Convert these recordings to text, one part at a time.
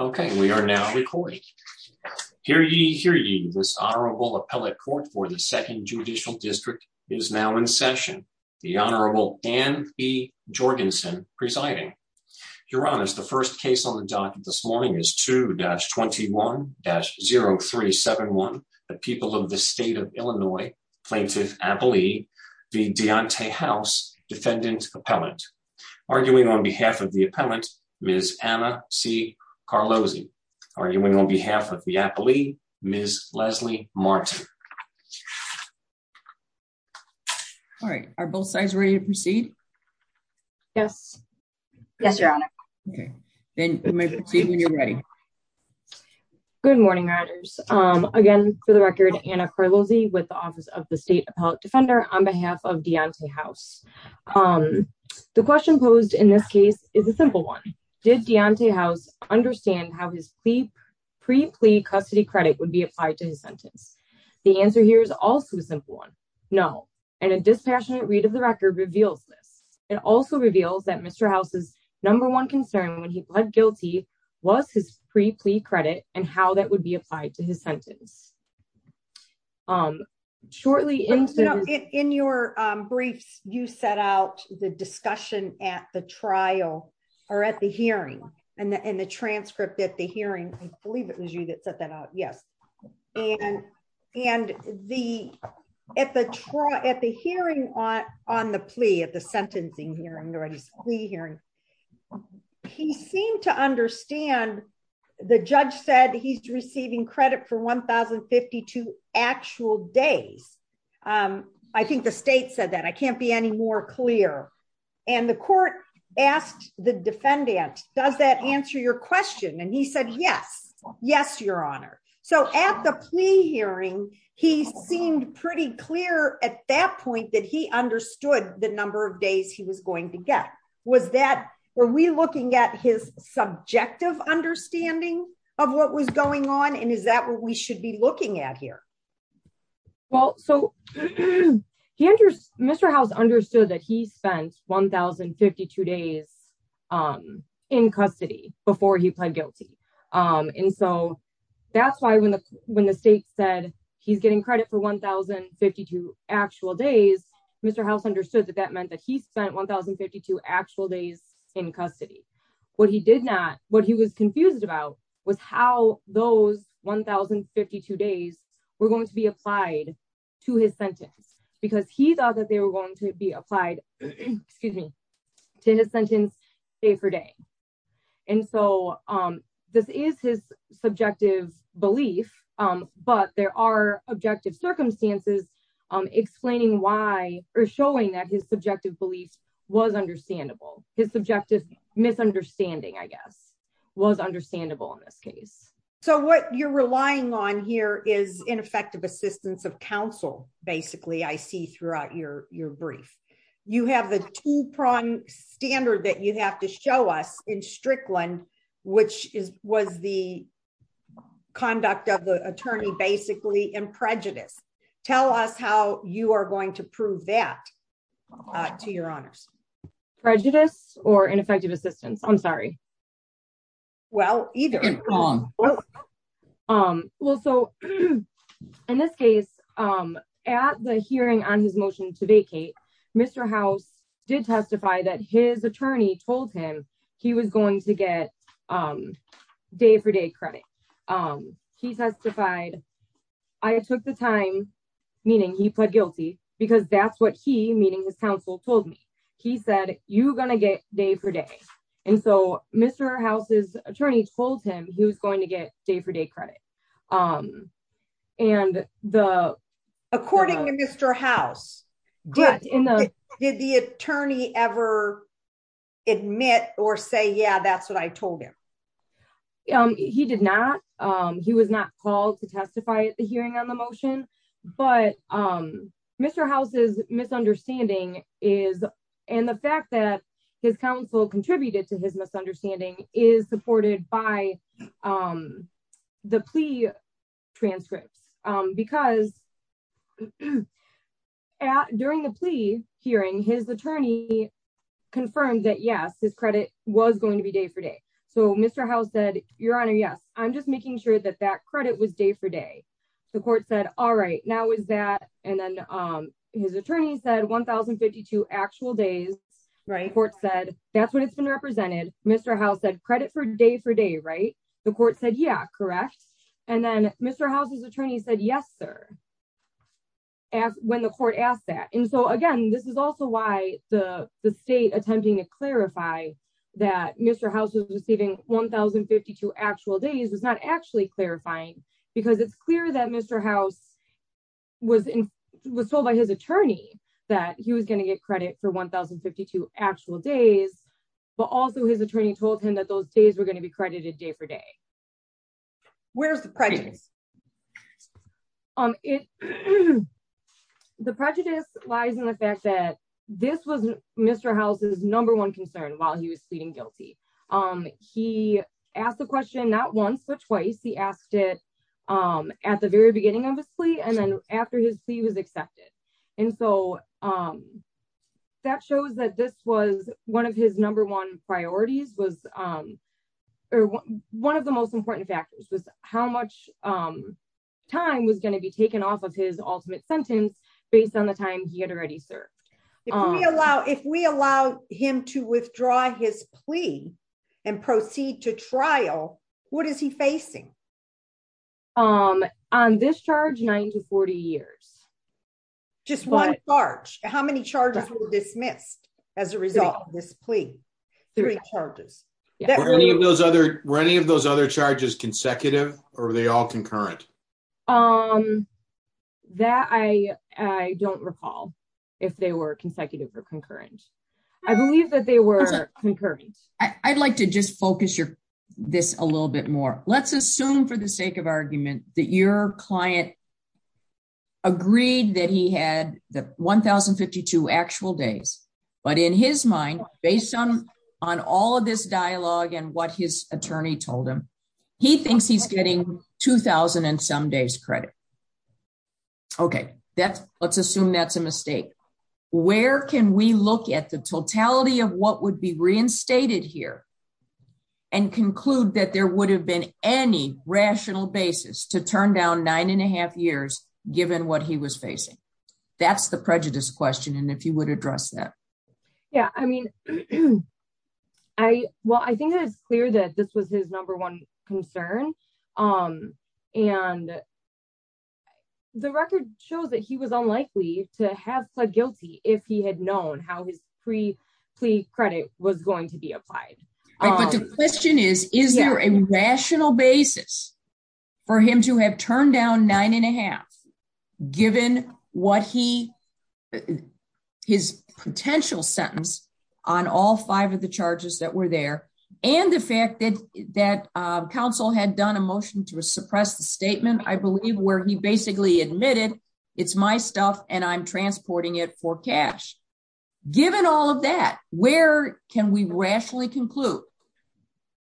Okay, we are now recording. Hear ye, hear ye, this Honorable Appellate Court for the 2nd Judicial District is now in session. The Honorable Dan E. Jorgensen presiding. Your Honors, the first case on the docket this morning is 2-21-0371, the people of the state of Illinois, Plaintiff Abilie v. Deontay House, Defendant Appellant. Arguing on behalf of the Appellant, Ms. Anna C. Carlozzi. Arguing on behalf of the Appellee, Ms. Leslie Martin. Alright, are both sides ready to proceed? Yes. Yes, Your Honor. Okay, then we may proceed when you're ready. Good morning, Riders. Again, for the record, Anna Carlozzi with the Office of the State Appellate Defender on behalf of Deontay House. The question posed in this case is a simple one. Did Deontay House understand how his pre-plea custody credit would be applied to his sentence? The answer here is also a simple one. No, and a dispassionate read of the record reveals this. It also reveals that Mr. House's number one concern when he pled guilty was his pre-plea credit and how that would be applied to his sentence. Shortly, in your briefs, you set out the discussion at the trial or at the hearing and the transcript at the hearing. I believe it was you that set that out. Yes, and at the hearing on the plea, at the sentencing hearing, or at his plea hearing, he seemed to understand the judge said he's receiving credit for 1,052 actual days. I think the state said that. I can't be any more clear. And the court asked the defendant, does that answer your question? And he said, yes. Yes, Your Honor. So at the plea hearing, he seemed pretty clear at that point that he understood the number of days he was going to get. Were we looking at his subjective understanding of what was going on? And is that what we should be looking at here? Well, Mr. House understood that he spent 1,052 days in custody before he pled guilty. And so that's why when the state said he's getting credit for 1,052 actual days, Mr. House understood that that meant that he spent 1,052 actual days in custody. What he did not, what he was confused about was how those 1,052 days were going to be applied to his sentence because he thought that they were going to be applied to his sentence day for day. And so this is his subjective belief, but there are objective circumstances explaining why or showing that his subjective beliefs was understandable. His subjective misunderstanding, I guess, was understandable in this case. So what you're relying on here is ineffective assistance of counsel. Basically, I see throughout your, your brief, you have the two prong standard that you have to show us in Strickland, which is was the conduct of the attorney basically and prejudice. Tell us how you are going to prove that to your honors prejudice or ineffective assistance. I'm sorry. Well, either. Um, well, so, in this case, I'm at the hearing on his motion to vacate. Mr. House did testify that his attorney told him he was going to get day for day credit. He testified. I took the time, meaning he pled guilty, because that's what he meaning his counsel told me. He said, you're going to get day for day. And so, Mr. House's attorney told him he was going to get day for day credit. Um, and the, according to Mr. House, did the attorney ever admit or say yeah that's what I told him. He did not. He was not called to testify at the hearing on the motion, but I'm Mr houses misunderstanding is, and the fact that his counsel contributed to his misunderstanding is supported by the plea transcripts, because during the plea hearing his attorney confirmed that yes his credit was going to be day for day. So Mr. House said, Your Honor Yes, I'm just making sure that that credit was day for day. The court said all right now is that, and then his attorney said 1052 actual days, right court said, that's what it's been represented, Mr House said credit for day for day right, the court said yeah correct. And then, Mr houses attorney said yes sir. When the court asked that and so again this is also why the state attempting to clarify that Mr houses receiving 1052 actual days was not actually clarifying, because it's clear that Mr house was in was told by his attorney that he was going to get credit for 1052 actual days, but also his attorney told him that those days we're going to be credited day for day. Where's the prejudice. Um, it. The prejudice lies in the fact that this was Mr houses number one concern while he was sleeping guilty. Um, he asked the question not once or twice he asked it. At the very beginning obviously and then after his fee was accepted. And so, um, that shows that this was one of his number one priorities was one of the most important factors was how much time was going to be taken off of his ultimate sentence, based on the time he had already served. Allow if we allow him to withdraw his plea and proceed to trial. What is he facing. I'm on this charge nine to 40 years. Just one charge, how many charges were dismissed. As a result, this plea charges. Those other running of those other charges consecutive, or they all concurrent. Um, that I don't recall if they were consecutive or concurrent. I believe that they were concurrent. I'd like to just focus your this a little bit more, let's assume for the sake of argument that your client agreed that he had the 1052 actual days, but in his mind, based on on all of this dialogue and what his attorney told him. He thinks he's getting 2000 and some days credit. Okay, that's, let's assume that's a mistake. Where can we look at the totality of what would be reinstated here and conclude that there would have been any rational basis to turn down nine and a half years, given what he was facing. That's the prejudice question and if you would address that. Yeah, I mean, I, well I think it's clear that this was his number one concern. Um, and the record shows that he was unlikely to have pled guilty, if he had known how his pre plea credit was going to be applied. The question is, is there a rational basis for him to have turned down nine and a half, given what he his potential sentence on all five of the charges that were there, and the fact that that council had done a motion to suppress the statement I believe where he basically admitted, it's my stuff and I'm transporting it for cash. Given all of that, where can we rationally conclude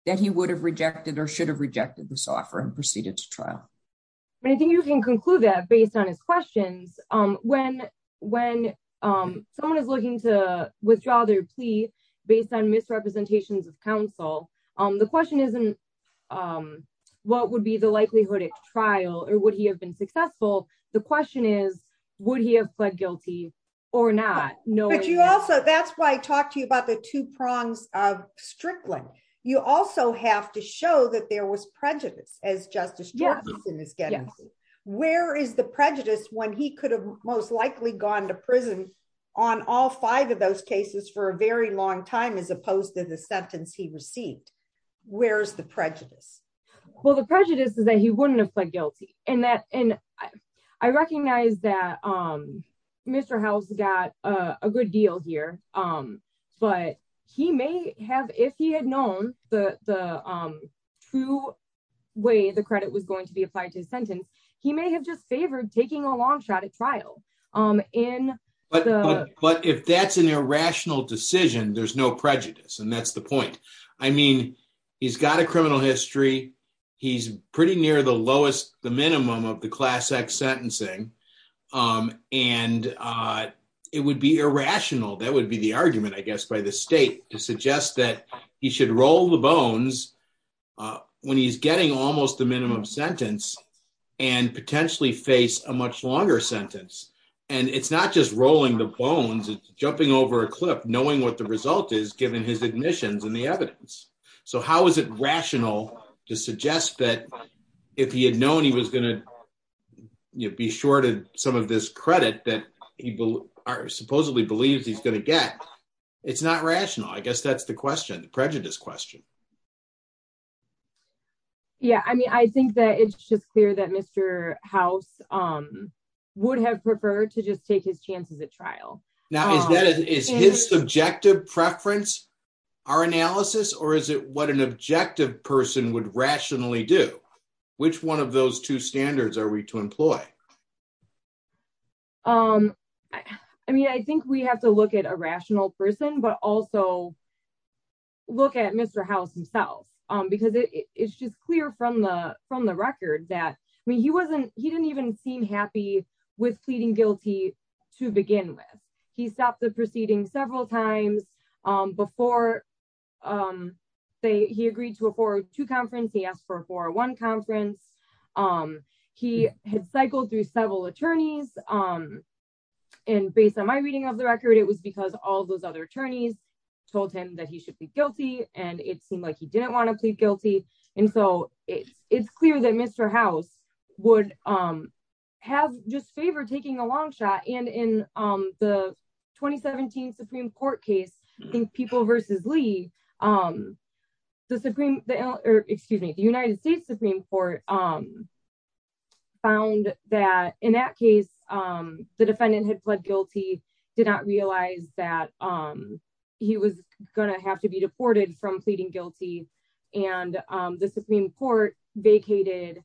that he would have rejected or should have rejected the software and proceeded to trial. I think you can conclude that based on his questions. Um, when, when someone is looking to withdraw their plea based on misrepresentations of counsel on the question isn't. What would be the likelihood of trial or would he have been successful. The question is, would he have pled guilty or not know what you also that's why I talked to you about the two prongs of strictly, you also have to show that there was prejudice, as well the prejudice is that he wouldn't have pled guilty, and that, and I recognize that, um, Mr house got a good deal here. Um, but he may have if he had known the true way the credit was going to be applied to sentence, he may have just favored taking a long shot at trial in. But, but if that's an irrational decision there's no prejudice and that's the point. I mean, he's got a criminal history. He's pretty near the lowest, the minimum of the class x sentencing. And it would be irrational that would be the argument I guess by the state to suggest that he should roll the bones. When he's getting almost the minimum sentence and potentially face a much longer sentence. And it's not just rolling the bones and jumping over a clip knowing what the result is given his admissions and the evidence. So how is it rational to suggest that if he had known he was going to be shorted, some of this credit that people are supposedly believes he's going to get. It's not rational I guess that's the question the prejudice question. Yeah, I mean I think that it's just clear that Mr. House, um, would have preferred to just take his chances at trial. Now is that is his subjective preference. Our analysis or is it what an objective person would rationally do, which one of those two standards are we to employ. Um, I mean I think we have to look at a rational person but also look at Mr. House himself, because it's just clear from the, from the record that when he wasn't, he didn't even seem happy with pleading guilty. To begin with, he stopped the proceeding several times before they he agreed to afford to conference he asked for for one conference, um, he had cycled through several attorneys. And based on my reading of the record it was because all those other attorneys told him that he should be guilty, and it seemed like he didn't want to plead guilty. And so, it's, it's clear that Mr. House would have just favor taking a long shot and in the 2017 Supreme Court case, I think people versus Lee, um, the Supreme, excuse me, the United States Supreme Court, um, found that in that case, the defendant had pled guilty did not realize that, um, he was going to have to be deported from pleading guilty, and the Supreme Court vacated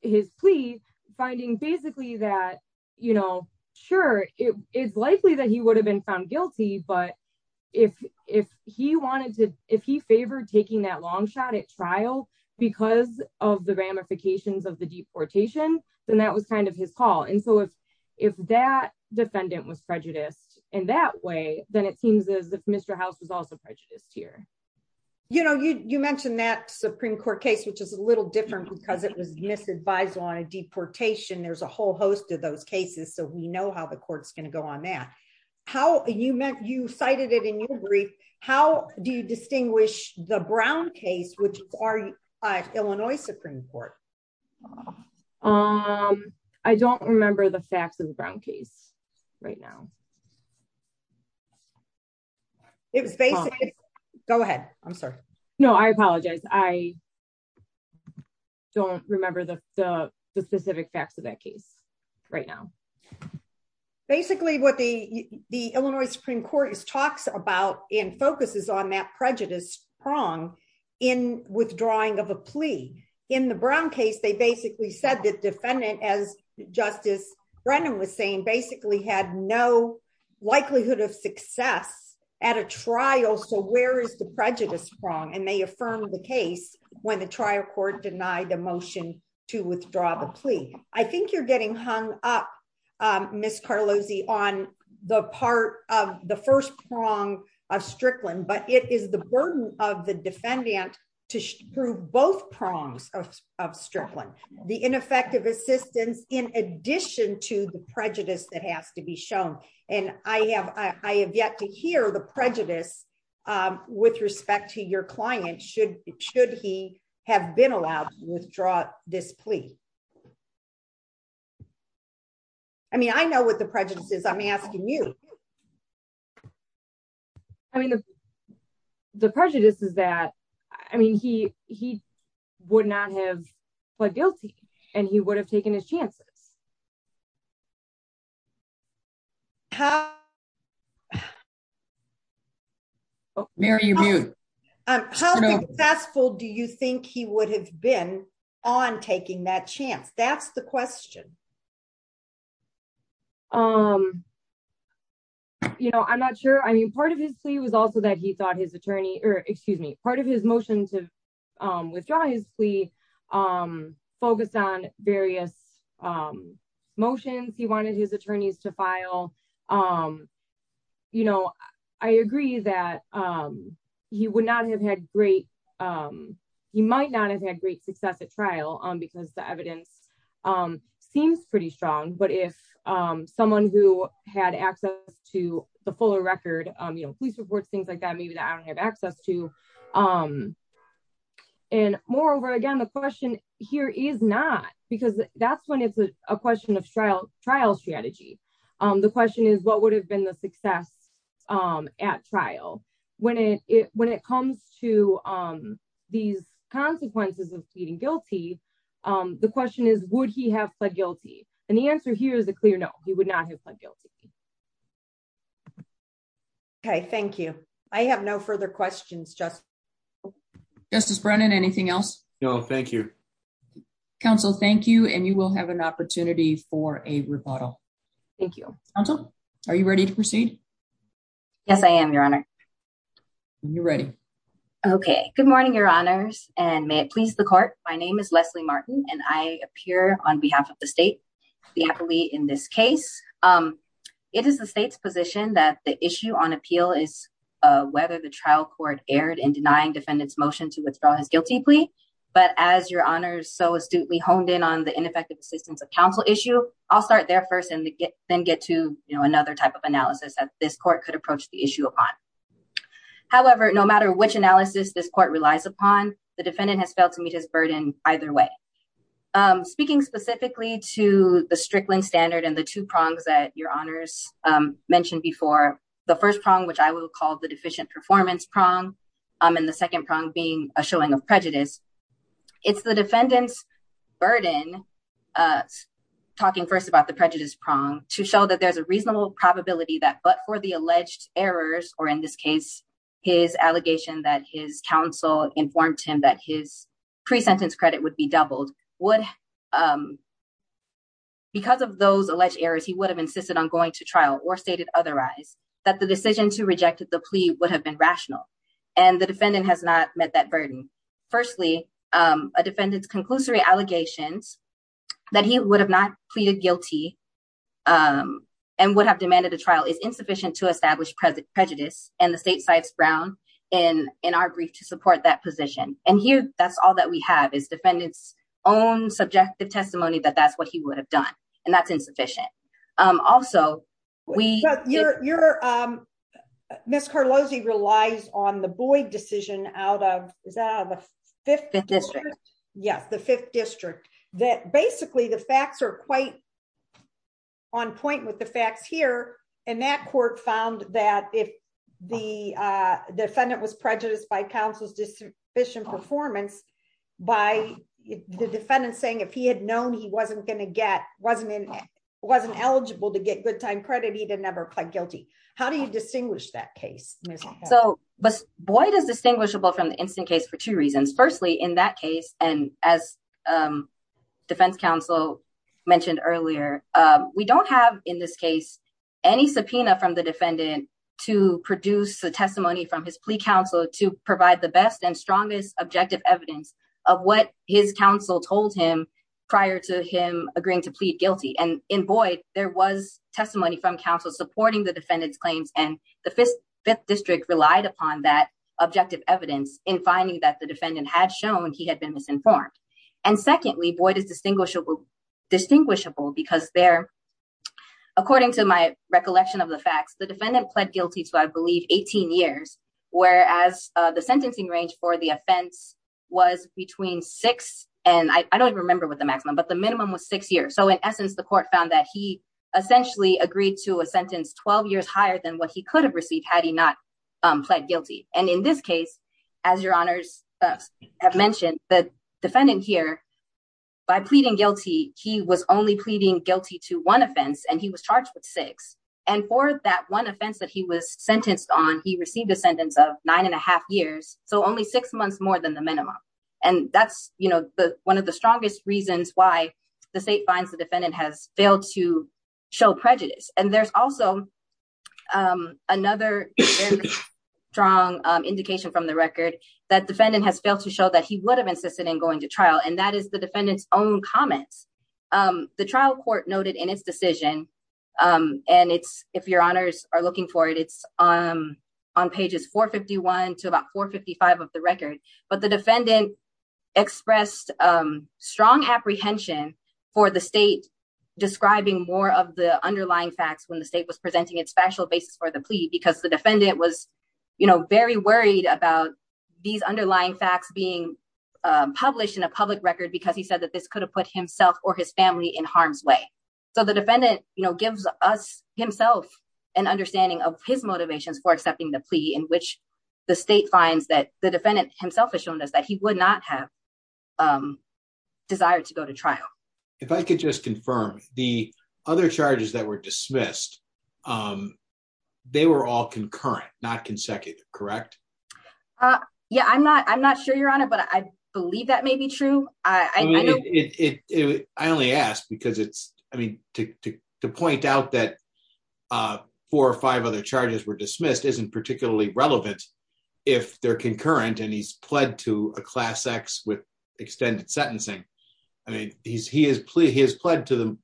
his plea, finding basically that, you know, sure, it is likely that he would have been found guilty but if, if he wanted to, if he favored taking that long shot at trial, because of the ramifications of the deportation, then that was kind of his call and so if, if that defendant was prejudiced in that way, then it seems as if Mr House was also prejudiced here. You know you mentioned that Supreme Court case which is a little different because it was misadvised on a deportation there's a whole host of those cases so we know how the courts going to go on that. How you met you cited it in your brief, how do you distinguish the brown case which are Illinois Supreme Court. Um, I don't remember the facts of the brown case right now. It was basically. Go ahead. I'm sorry. No, I apologize. I don't remember the specific facts of that case right now. Basically what the, the Illinois Supreme Court is talks about in focuses on that prejudice prong in withdrawing of a plea in the brown case they basically said that defendant as justice. Brandon was saying basically had no likelihood of success at a trial so where is the prejudice prong and may affirm the case when the trial court denied the motion to withdraw the plea, I think you're getting hung up. Miss Carlos II on the part of the first prong of Strickland but it is the burden of the defendant to prove both prongs of Strickland, the ineffective assistance, in addition to the prejudice that has to be shown, and I have, I have yet to hear the I mean I know what the prejudices I'm asking you. I mean, the prejudice is that, I mean he, he would not have pled guilty, and he would have taken his chances. How successful do you think he would have been on taking that chance. That's the question. You know, I'm not sure I mean part of his plea was also that he thought his attorney, or excuse me, part of his motion to withdraw his plea focused on various motions he wanted his attorneys to file. You know, I agree that he would not have had great. He might not have had great success at trial on because the evidence seems pretty strong but if someone who had access to the fuller record, you know, please report things like that maybe that I don't have access to. And moreover again the question here is not because that's when it's a question of trial, trial strategy. The question is what would have been the success at trial, when it, when it comes to these consequences of pleading guilty. The question is, would he have pled guilty, and the answer here is a clear no, he would not have pled guilty. Okay, thank you. I have no further questions just justice Brennan anything else. No, thank you. Council, thank you and you will have an opportunity for a rebuttal. Thank you. Are you ready to proceed. Yes, I am your honor. You're ready. Okay, good morning, your honors, and may it please the court. My name is Leslie Martin, and I appear on behalf of the state. We have to be in this case. It is the state's position that the issue on appeal is whether the trial court aired and denying defendants motion to withdraw his guilty plea. But as your honors so astutely honed in on the ineffective assistance of counsel issue. I'll start there first and then get to, you know, another type of analysis that this court could approach the issue upon. However, no matter which analysis this court relies upon the defendant has failed to meet his burden, either way. Speaking specifically to the Strickland standard and the two prongs that your honors mentioned before the first prong which I will call the deficient performance prong. And the second prong being a showing of prejudice. It's the defendants burden. Talking first about the prejudice prong to show that there's a reasonable probability that but for the alleged errors, or in this case, his allegation that his counsel informed him that his pre sentence credit would be doubled would. Because of those alleged errors, he would have insisted on going to trial or stated otherwise that the decision to rejected the plea would have been rational and the defendant has not met that burden. Firstly, a defendant's conclusory allegations that he would have not pleaded guilty. And would have demanded a trial is insufficient to establish present prejudice, and the state sites brown in in our brief to support that position, and here, that's all that we have is defendants own subjective testimony that that's what he would have done. And that's insufficient. Also, we know you're, you're Miss Carlos he relies on the boy decision out of the fifth district. Yes, the fifth district that basically the facts are quite on point with the facts here, and that court found that if the defendant was prejudiced by the defendant wasn't eligible to get good time credit he didn't ever play guilty. How do you distinguish that case. So, but boy does distinguishable from the instant case for two reasons. Firstly, in that case, and as defense counsel mentioned earlier, we don't have in this case, any subpoena from the defendant to produce a testimony from his plea counsel to provide the best and strongest objective evidence of what his counsel told him prior to him, agreeing to plead guilty and in boy, there was testimony from counsel supporting the defendants claims and the fifth district relied upon that objective evidence in finding that the defendant had shown he had been misinformed. And secondly, boy does distinguishable distinguishable because they're according to my recollection of the facts the defendant pled guilty to I believe 18 years, whereas the sentencing range for the offense was between six, and I don't remember what the maximum but the minimum was six years so in essence the court found that he essentially agreed to a sentence 12 years higher than what he could have received had he not pled guilty. And in this case, as your honors have mentioned that defendant here by pleading guilty, he was only pleading guilty to one offense and he was charged with six. And for that one offense that he was sentenced on he received a sentence of nine and a half years, so only six months more than the minimum. And that's, you know, the one of the strongest reasons why the state finds the defendant has failed to show prejudice, and there's also another strong indication from the record that defendant has failed to show that he would have insisted in going to trial and that is the defendants own comments. The trial court noted in its decision. And it's, if your honors are looking for it it's on on pages 451 to about 455 of the record, but the defendant expressed strong apprehension for the state, describing more of the underlying facts when the state was presenting its special basis for the plea because the defendant was, you know, very worried about these underlying facts being published in a public record because he said that this could have put himself or his family in harm's way. So the defendant, you know, gives us himself an understanding of his motivations for accepting the plea in which the state finds that the defendant himself has shown us that he would not have desire to go to trial. If I could just confirm the other charges that were dismissed. They were all concurrent not consecutive correct. Yeah, I'm not I'm not sure you're on it but I believe that may be true. I only asked because it's, I mean, to point out that four or five other charges were dismissed isn't particularly relevant. If they're concurrent and he's pled to a class x with extended sentencing. I mean, he's he has played he has pled to the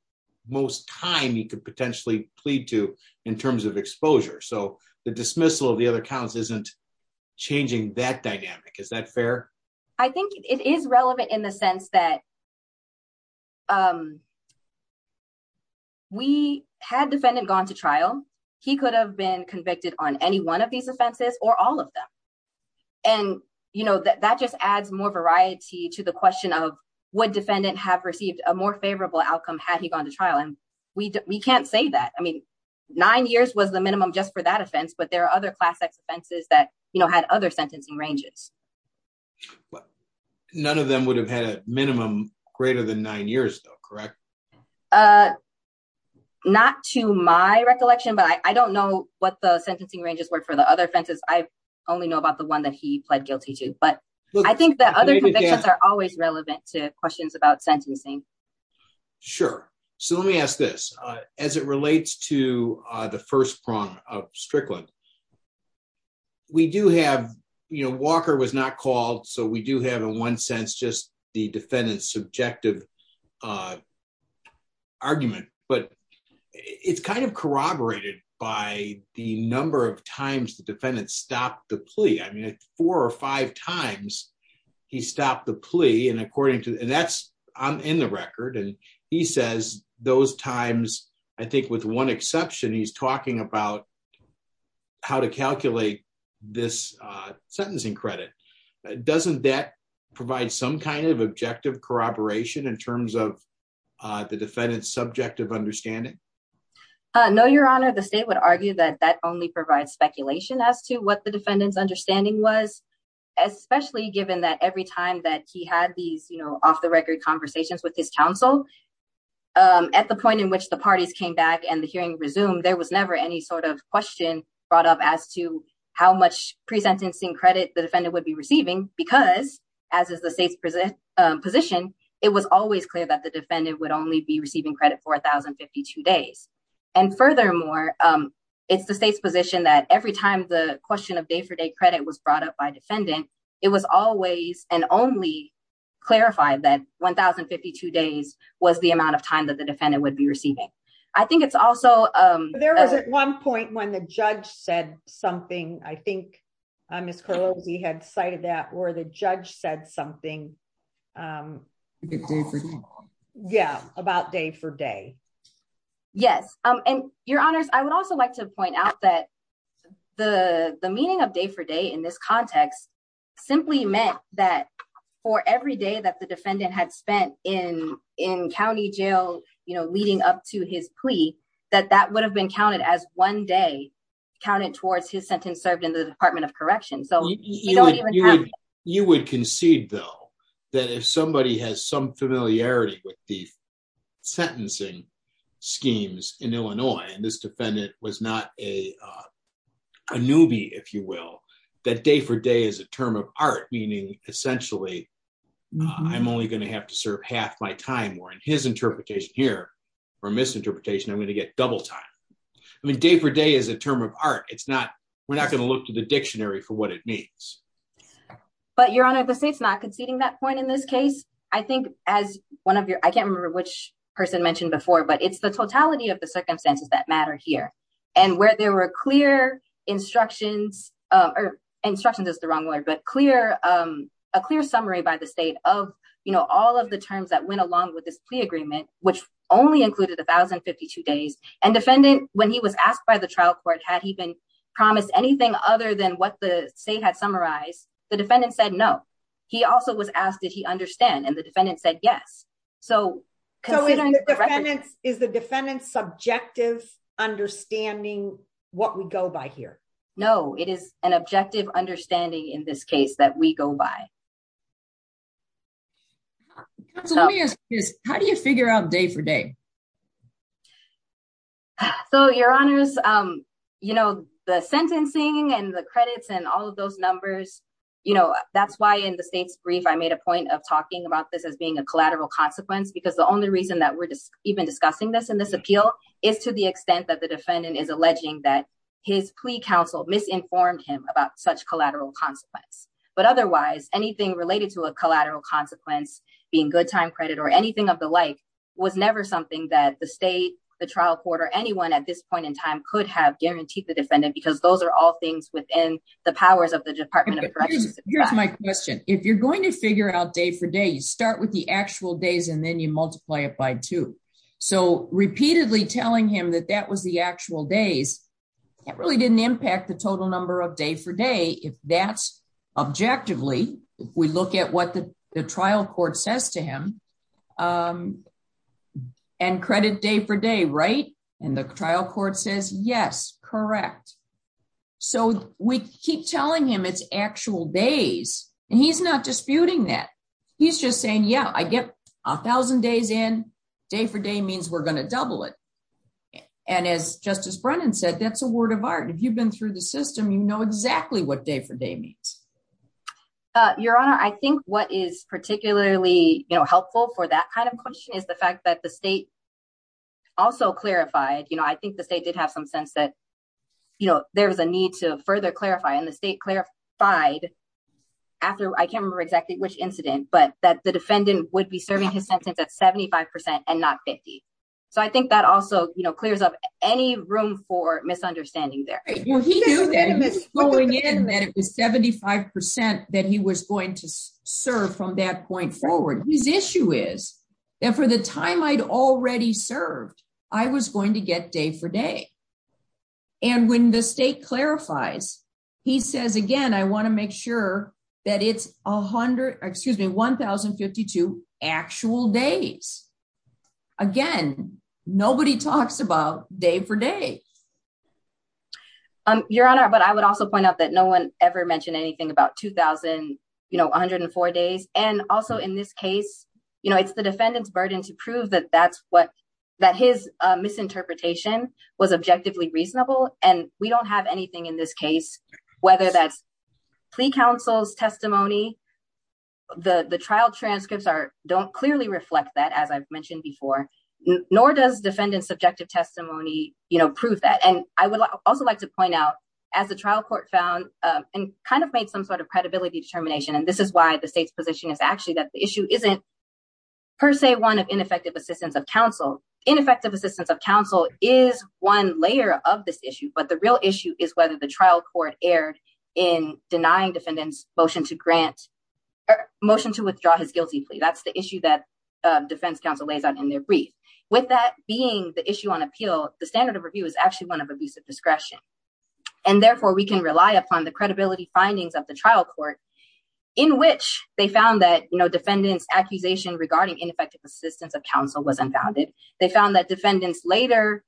most time he could potentially plead to in terms of exposure so the dismissal of the other counts isn't changing that dynamic is that fair. I think it is relevant in the sense that we had defendant gone to trial. He could have been convicted on any one of these offenses, or all of them. And, you know, that just adds more variety to the question of what defendant have received a more favorable outcome had he gone to trial and we can't say that I mean nine years was the minimum just for that offense, but there are other classics offenses that you know had other sentencing ranges. But none of them would have had a minimum greater than nine years though correct. Uh, not to my recollection but I don't know what the sentencing ranges work for the other fences, I only know about the one that he pled guilty to, but I think that other things are always relevant to questions about sentencing. Sure. So let me ask this. As it relates to the first prong of Strickland. We do have, you know, Walker was not called so we do have in one sense just the defendant subjective argument, but it's kind of corroborated by the number of times the defendant stopped the plea I mean four or five times. He stopped the plea and according to that's in the record and he says, those times, I think with one exception he's talking about how to calculate this sentencing credit, doesn't that provide some kind of objective corroboration in terms of the defendant subjective understanding. No, Your Honor, the state would argue that that only provides speculation as to what the defendants understanding was, especially given that every time that he had these you know off the record conversations with his counsel. At the point in which the parties came back and the hearing resume there was never any sort of question brought up as to how much pre sentencing credit the defendant would be receiving because, as is the state's present position. It was always clear that the defendant would only be receiving credit for 1052 days. And furthermore, it's the state's position that every time the question of day for day credit was brought up by defendant. It was always an only clarify that 1052 days was the amount of time that the defendant would be receiving. I think it's also, there was at one point when the judge said something I think I'm as close he had cited that or the judge said something. Yeah, about day for day. Yes, and Your Honors, I would also like to point out that the, the meaning of day for day in this context, simply meant that for every day that the defendant had spent in in county jail, you know, leading up to his plea that that would have been counted as one day counted towards his sentence served in the Department of Correction so you would concede, though, that if somebody has some familiarity with the sentencing schemes in Illinois and this defendant was not a newbie, if you will, that day for day is a term of art, meaning, essentially, I'm only going to have to serve half my time or and his interpretation here for misinterpretation I'm going to get double time. I mean day for day is a term of art, it's not, we're not going to look to the dictionary for what it means. But Your Honor the state's not conceding that point in this case, I think, as one of your, I can't remember which person mentioned before but it's the totality of the circumstances that matter here, and where there were clear instructions or instructions is the wrong word but clear, a clear summary by the state of, you know, all of the terms that went along with this plea agreement, which only included 1052 days and defendant, when he was asked by the trial court had he been promised anything other than what the state had summarize the defendant said no. He also was asked if he understand and the defendant said yes. So, is the defendant subjective understanding what we go by here. No, it is an objective understanding in this case that we go by. How do you figure out day for day. So your honors, um, you know, the sentencing and the credits and all of those numbers. You know, that's why in the state's brief I made a point of talking about this as being a collateral consequence because the only reason that we're just even discussing this appeal is to the extent that the defendant is alleging that his plea counsel misinformed him about such collateral consequence, but otherwise anything related to a collateral consequence, being good time credit or anything of the like, was never something that the state, the trial court or anyone at this point in time could have guaranteed the defendant because those are all things within the powers of the Department of Justice. Here's my question, if you're going to figure out day for day you start with the actual days and then you multiply it by two. So, repeatedly telling him that that was the actual days that really didn't impact the total number of day for day if that's objectively, we look at what the trial court says to him and credit day for day right and the trial court says yes, correct. So, we keep telling him it's actual days, and he's not disputing that he's just saying yeah I get 1000 days in day for day means we're going to double it. And as Justice Brennan said that's a word of art if you've been through the system you know exactly what day for day means. Your Honor, I think what is particularly helpful for that kind of question is the fact that the state also clarified you know I think the state did have some sense that, you know, there was a need to further clarify and the state clarified. After I can't remember exactly which incident but that the defendant would be serving his sentence at 75% and not 50. So I think that also, you know, clears up any room for misunderstanding there. Going in that it was 75% that he was going to serve from that point forward, his issue is that for the time I'd already served, I was going to get day for day. And when the state clarifies. He says again I want to make sure that it's 100, excuse me 1052 actual days. Again, nobody talks about day for day. Your Honor, but I would also point out that no one ever mentioned anything about 2000, you know, 104 days, and also in this case, you know it's the defendant's burden to prove that that's what that his misinterpretation was objectively reasonable, and we don't have anything in this case, whether that's plea counsel's testimony. The the trial transcripts are don't clearly reflect that as I've mentioned before, nor does defendant subjective testimony, you know, prove that and I would also like to point out as a trial court found and kind of made some sort of credibility determination and this is why the state's position is actually that the issue isn't per se one of ineffective assistance of counsel ineffective assistance of counsel is one layer of this issue but the real issue is whether the trial court aired in denying defendants motion to grant motion to withdraw his guilty plea that's the issue that defense counsel lays out in their brief with that being the issue on appeal, the standard of review is actually one of abusive discretion. And therefore we can rely upon the credibility findings of the trial court, in which they found that you know defendants accusation regarding ineffective assistance of counsel was unfounded. They found that defendants later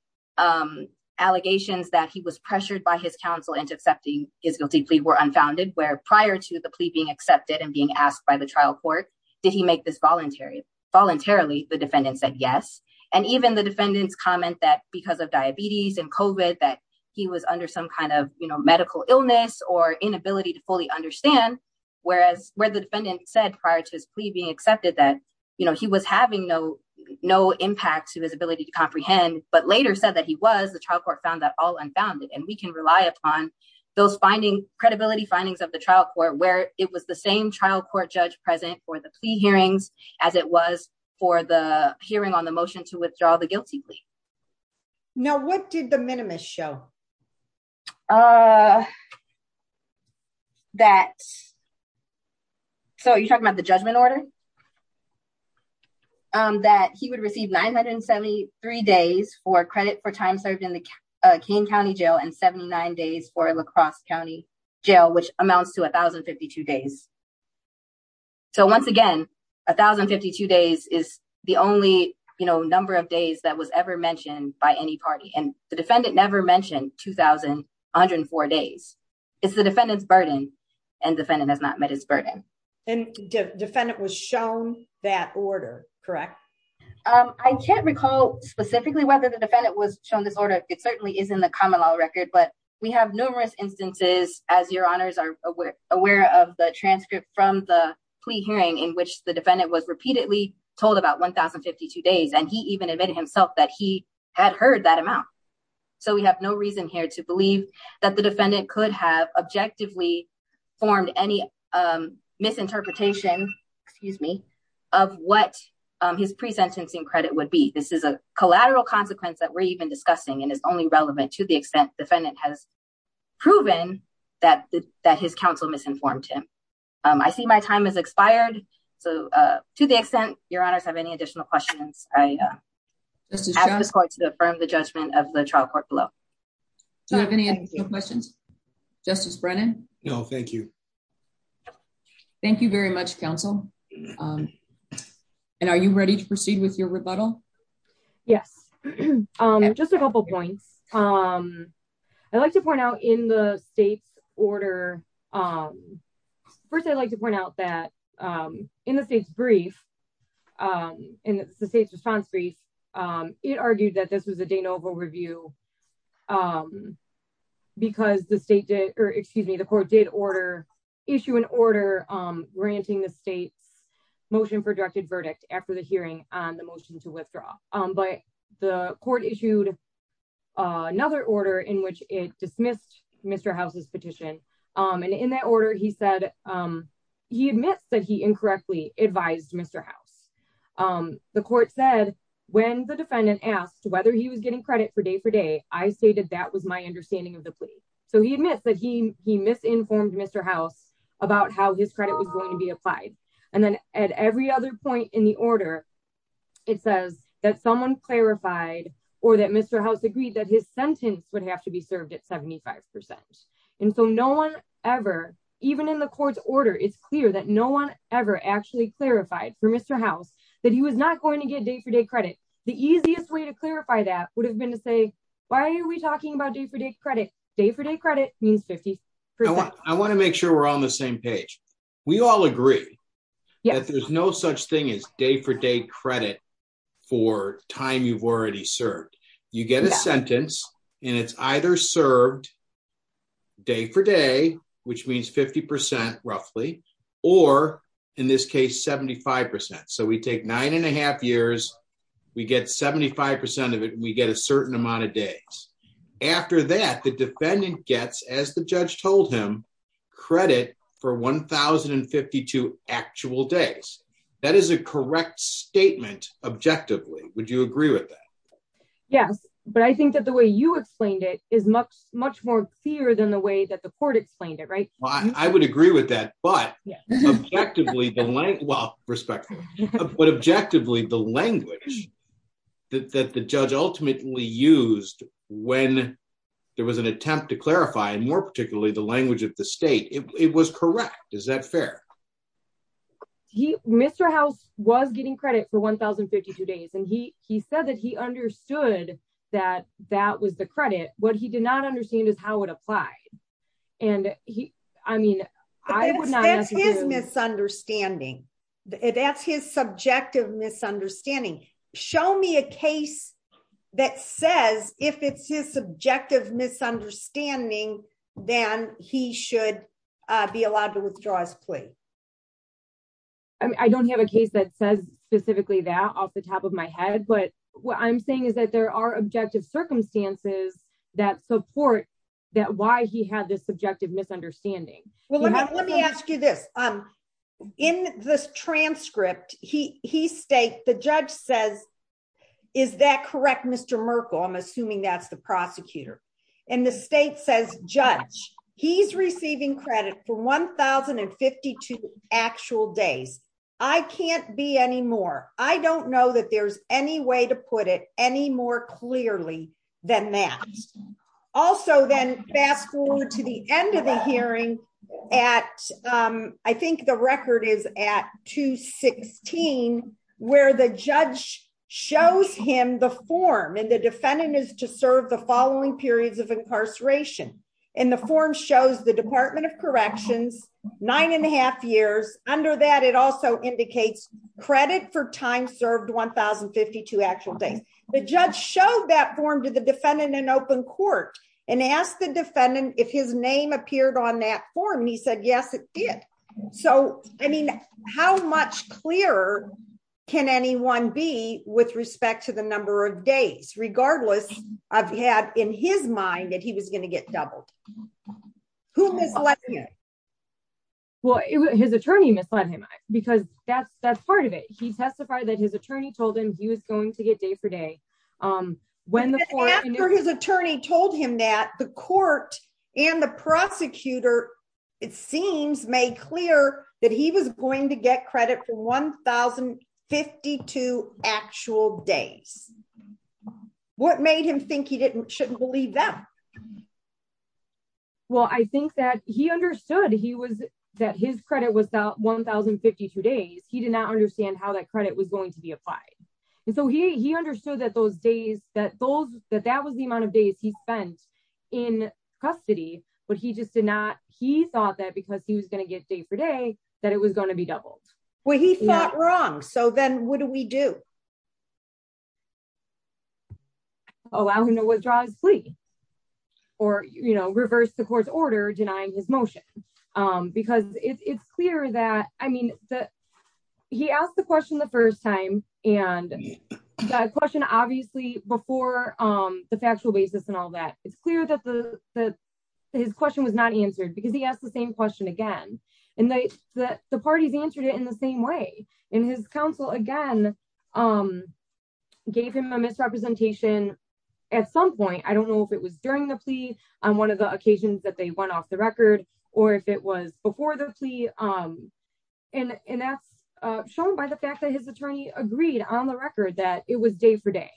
allegations that he was pressured by his counsel into accepting his guilty plea were unfounded where prior to the plea being accepted and being asked by the trial court. Did he make this voluntary voluntarily the defendant said yes, and even the defendants comment that because of diabetes and covert that he was under some kind of, you know, medical illness or inability to fully understand, whereas, where the defendant said prior to his plea being accepted that, you know, he was having no, no impact to his ability to comprehend, but later said that he was the trial court found that all unfounded and we can rely upon those finding credibility findings of the trial court where it was the same trial court judge present for the plea hearings, as it was for the hearing on the motion to withdraw the guilty plea. Now what did the minimus show that. So you're talking about the judgment order that he would receive 973 days for credit for time served in the King County Jail and 79 days for lacrosse county jail which amounts to 1052 days. So once again, 1052 days is the only you know number of days that was ever mentioned by any party and the defendant never mentioned 2104 days. It's the defendants burden and defendant has not met his burden and defendant was shown that order, correct. I can't recall specifically whether the defendant was shown this order, it certainly isn't the common law record but we have numerous instances, as your honors are aware of the transcript from the plea hearing in which the defendant was repeatedly told about 1052 days and he even admitted himself that he had heard that amount. So we have no reason here to believe that the defendant could have objectively formed any misinterpretation, excuse me, of what his pre sentencing credit would be this is a collateral consequence that we're even discussing and is only relevant to the extent defendant has proven that that his counsel misinformed him. I see my time has expired. So, to the extent, your honors have any additional questions, I just want to affirm the judgment of the trial court below. Justice Brennan. No, thank you. Thank you very much counsel. And are you ready to proceed with your rebuttal. Yes. I'm just a couple points. Um, I'd like to point out in the state's order. First I'd like to point out that in the state's brief in the state's response brief. It argued that this was a de novo review, because the state did, or excuse me the court did order issue an order granting the state's motion for directed verdict after the hearing on the motion to withdraw, but the court issued another order in which it dismissed Mr houses petition. And in that order he said he admits that he incorrectly advised Mr house. The court said, when the defendant asked whether he was getting credit for day for day, I stated that was my understanding of the plea. So he admits that he, he misinformed Mr house about how his credit was going to be applied. And then, at every other point in the order. It says that someone clarified, or that Mr house agreed that his sentence would have to be served at 75%. And so no one ever, even in the court's order it's clear that no one ever actually clarified for Mr house that he was not going to get day for day credit, the easiest way to clarify that would have been to say, why are we talking about day for day credit day for day credit means 50% I want to make sure we're on the same page. We all agree. Yeah, there's no such thing as day for day credit for time you've already served, you get a sentence, and it's either served day for day, which means 50%, roughly, or in this case 75% so we take nine and a half years, we get 75% of it we get a certain amount of days. After that the defendant gets as the judge told him credit for 1052 actual days. That is a correct statement, objectively, would you agree with that. Yes, but I think that the way you explained it is much, much more clear than the way that the court explained it right, I would agree with that, but effectively the length well, respectively. But objectively the language that the judge ultimately used when there was an attempt to clarify and more particularly the language of the state, it was correct. Is that fair. He Mr house was getting credit for 1052 days and he he said that he understood that that was the credit, what he did not understand is how it applied. And he, I mean, I was misunderstanding. That's his subjective misunderstanding. Show me a case that says, if it's his subjective misunderstanding, then he should be allowed to withdraw his plea. I don't have a case that says specifically that off the top of my head but what I'm saying is that there are objective circumstances that support that why he had this subjective misunderstanding. Well, let me ask you this. I'm in this transcript, he, he state the judge says, Is that correct Mr Merkel I'm assuming that's the prosecutor, and the state says judge, he's receiving credit for 1052 actual days. I can't be anymore. I don't know that there's any way to put it any more clearly than that. Also then fast forward to the end of the hearing at. I think the record is at 216, where the judge shows him the form and the defendant is to serve the following periods of incarceration, and the form shows the Department of Corrections, nine and a half years under that it also indicates credit for time served 1052 actual days, the judge showed that form to the defendant and open court and asked the defendant, if his name appeared on that for me said yes it did. So, I mean, how much clearer. Can anyone be with respect to the number of days regardless of had in his mind that he was going to get doubled. Who was like, Well, his attorney misled him, because that's that's part of it, he testified that his attorney told him he was going to get day for day. When his attorney told him that the court, and the prosecutor. It seems made clear that he was going to get credit for 1052 actual days. What made him think he didn't shouldn't believe that. Well, I think that he understood he was that his credit was out 1052 days he did not understand how that credit was going to be applied. And so he understood that those days that those that that was the amount of days he spent in custody, but he just did not, he thought that because he was going to get day for day that it was going to be doubled. Well he thought wrong so then what do we do allow him to withdraw his plea, or, you know, reverse the court's order denying his motion, because it's clear that I mean that he asked the question the first time, and that question obviously before the factual basis and all that, it's clear that his question was not answered because he asked the same question again, and they, the parties answered it in the same way, and his counsel again, um, gave him a misrepresentation. At some point, I don't know if it was during the plea on one of the occasions that they went off the record, or if it was before the plea. And that's shown by the fact that his attorney agreed on the record that it was day for day.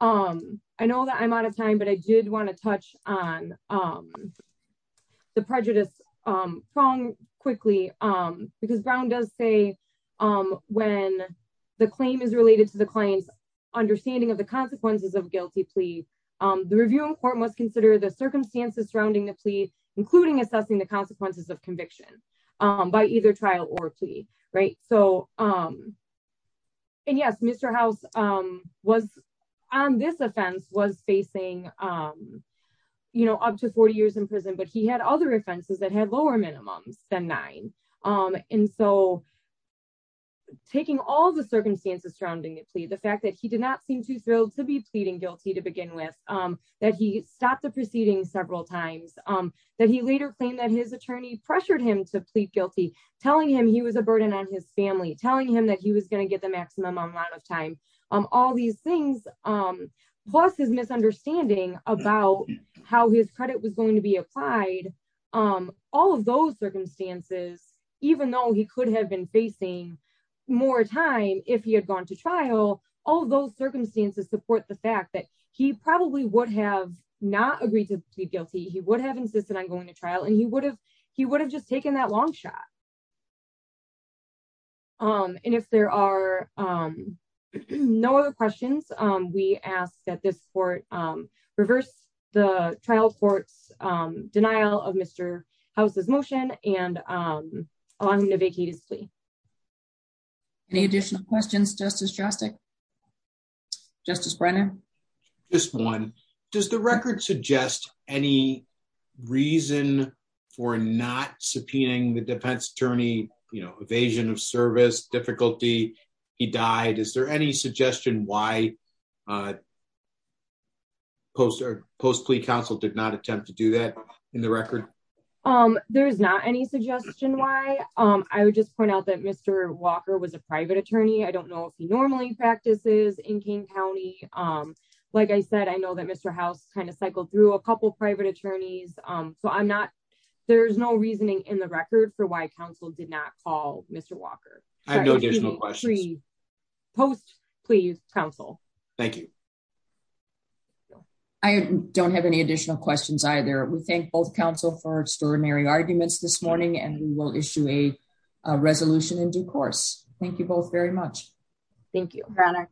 Um, I know that I'm out of time but I did want to touch on the prejudice. Wrong, quickly, um, because Brown does say, um, when the claim is related to the client's understanding of the consequences of guilty plea. The review report must consider the circumstances surrounding the plea, including assessing the consequences of conviction by either trial or plea. Right, so, um, and yes Mr house was on this offense was facing. You know, up to 40 years in prison but he had other offenses that had lower minimums than nine. Um, and so, taking all the circumstances surrounding the plea the fact that he did not seem too thrilled to be pleading guilty to begin with, that he stopped the about how his credit was going to be applied. Um, all of those circumstances, even though he could have been facing more time if he had gone to trial, all those circumstances support the fact that he probably would have not agreed to be guilty he would have insisted on going to trial and he would have, he would have just taken that long shot. Um, and if there are no other questions, we ask that this report, reverse the trial courts denial of Mr houses motion, and I'm going to vacate his plea. Any additional questions justice drastic. Justice Brennan, just one. Does the record suggest any reason for not subpoenaing the defense attorney, you know, evasion of service difficulty. He died. Is there any suggestion why poster post plea council did not attempt to do that. In the record. Um, there's not any suggestion why I would just point out that Mr. Walker was a private attorney I don't know if he normally practices in King County. Like I said, I know that Mr. House kind of cycled through a couple private attorneys, so I'm not. There's no reasoning in the record for why counsel did not call Mr. Walker. I know there's no question. Post, please, counsel. Thank you. I don't have any additional questions either we thank both counsel for extraordinary arguments this morning and we will issue a resolution in due course. Thank you both very much. Thank you for honor.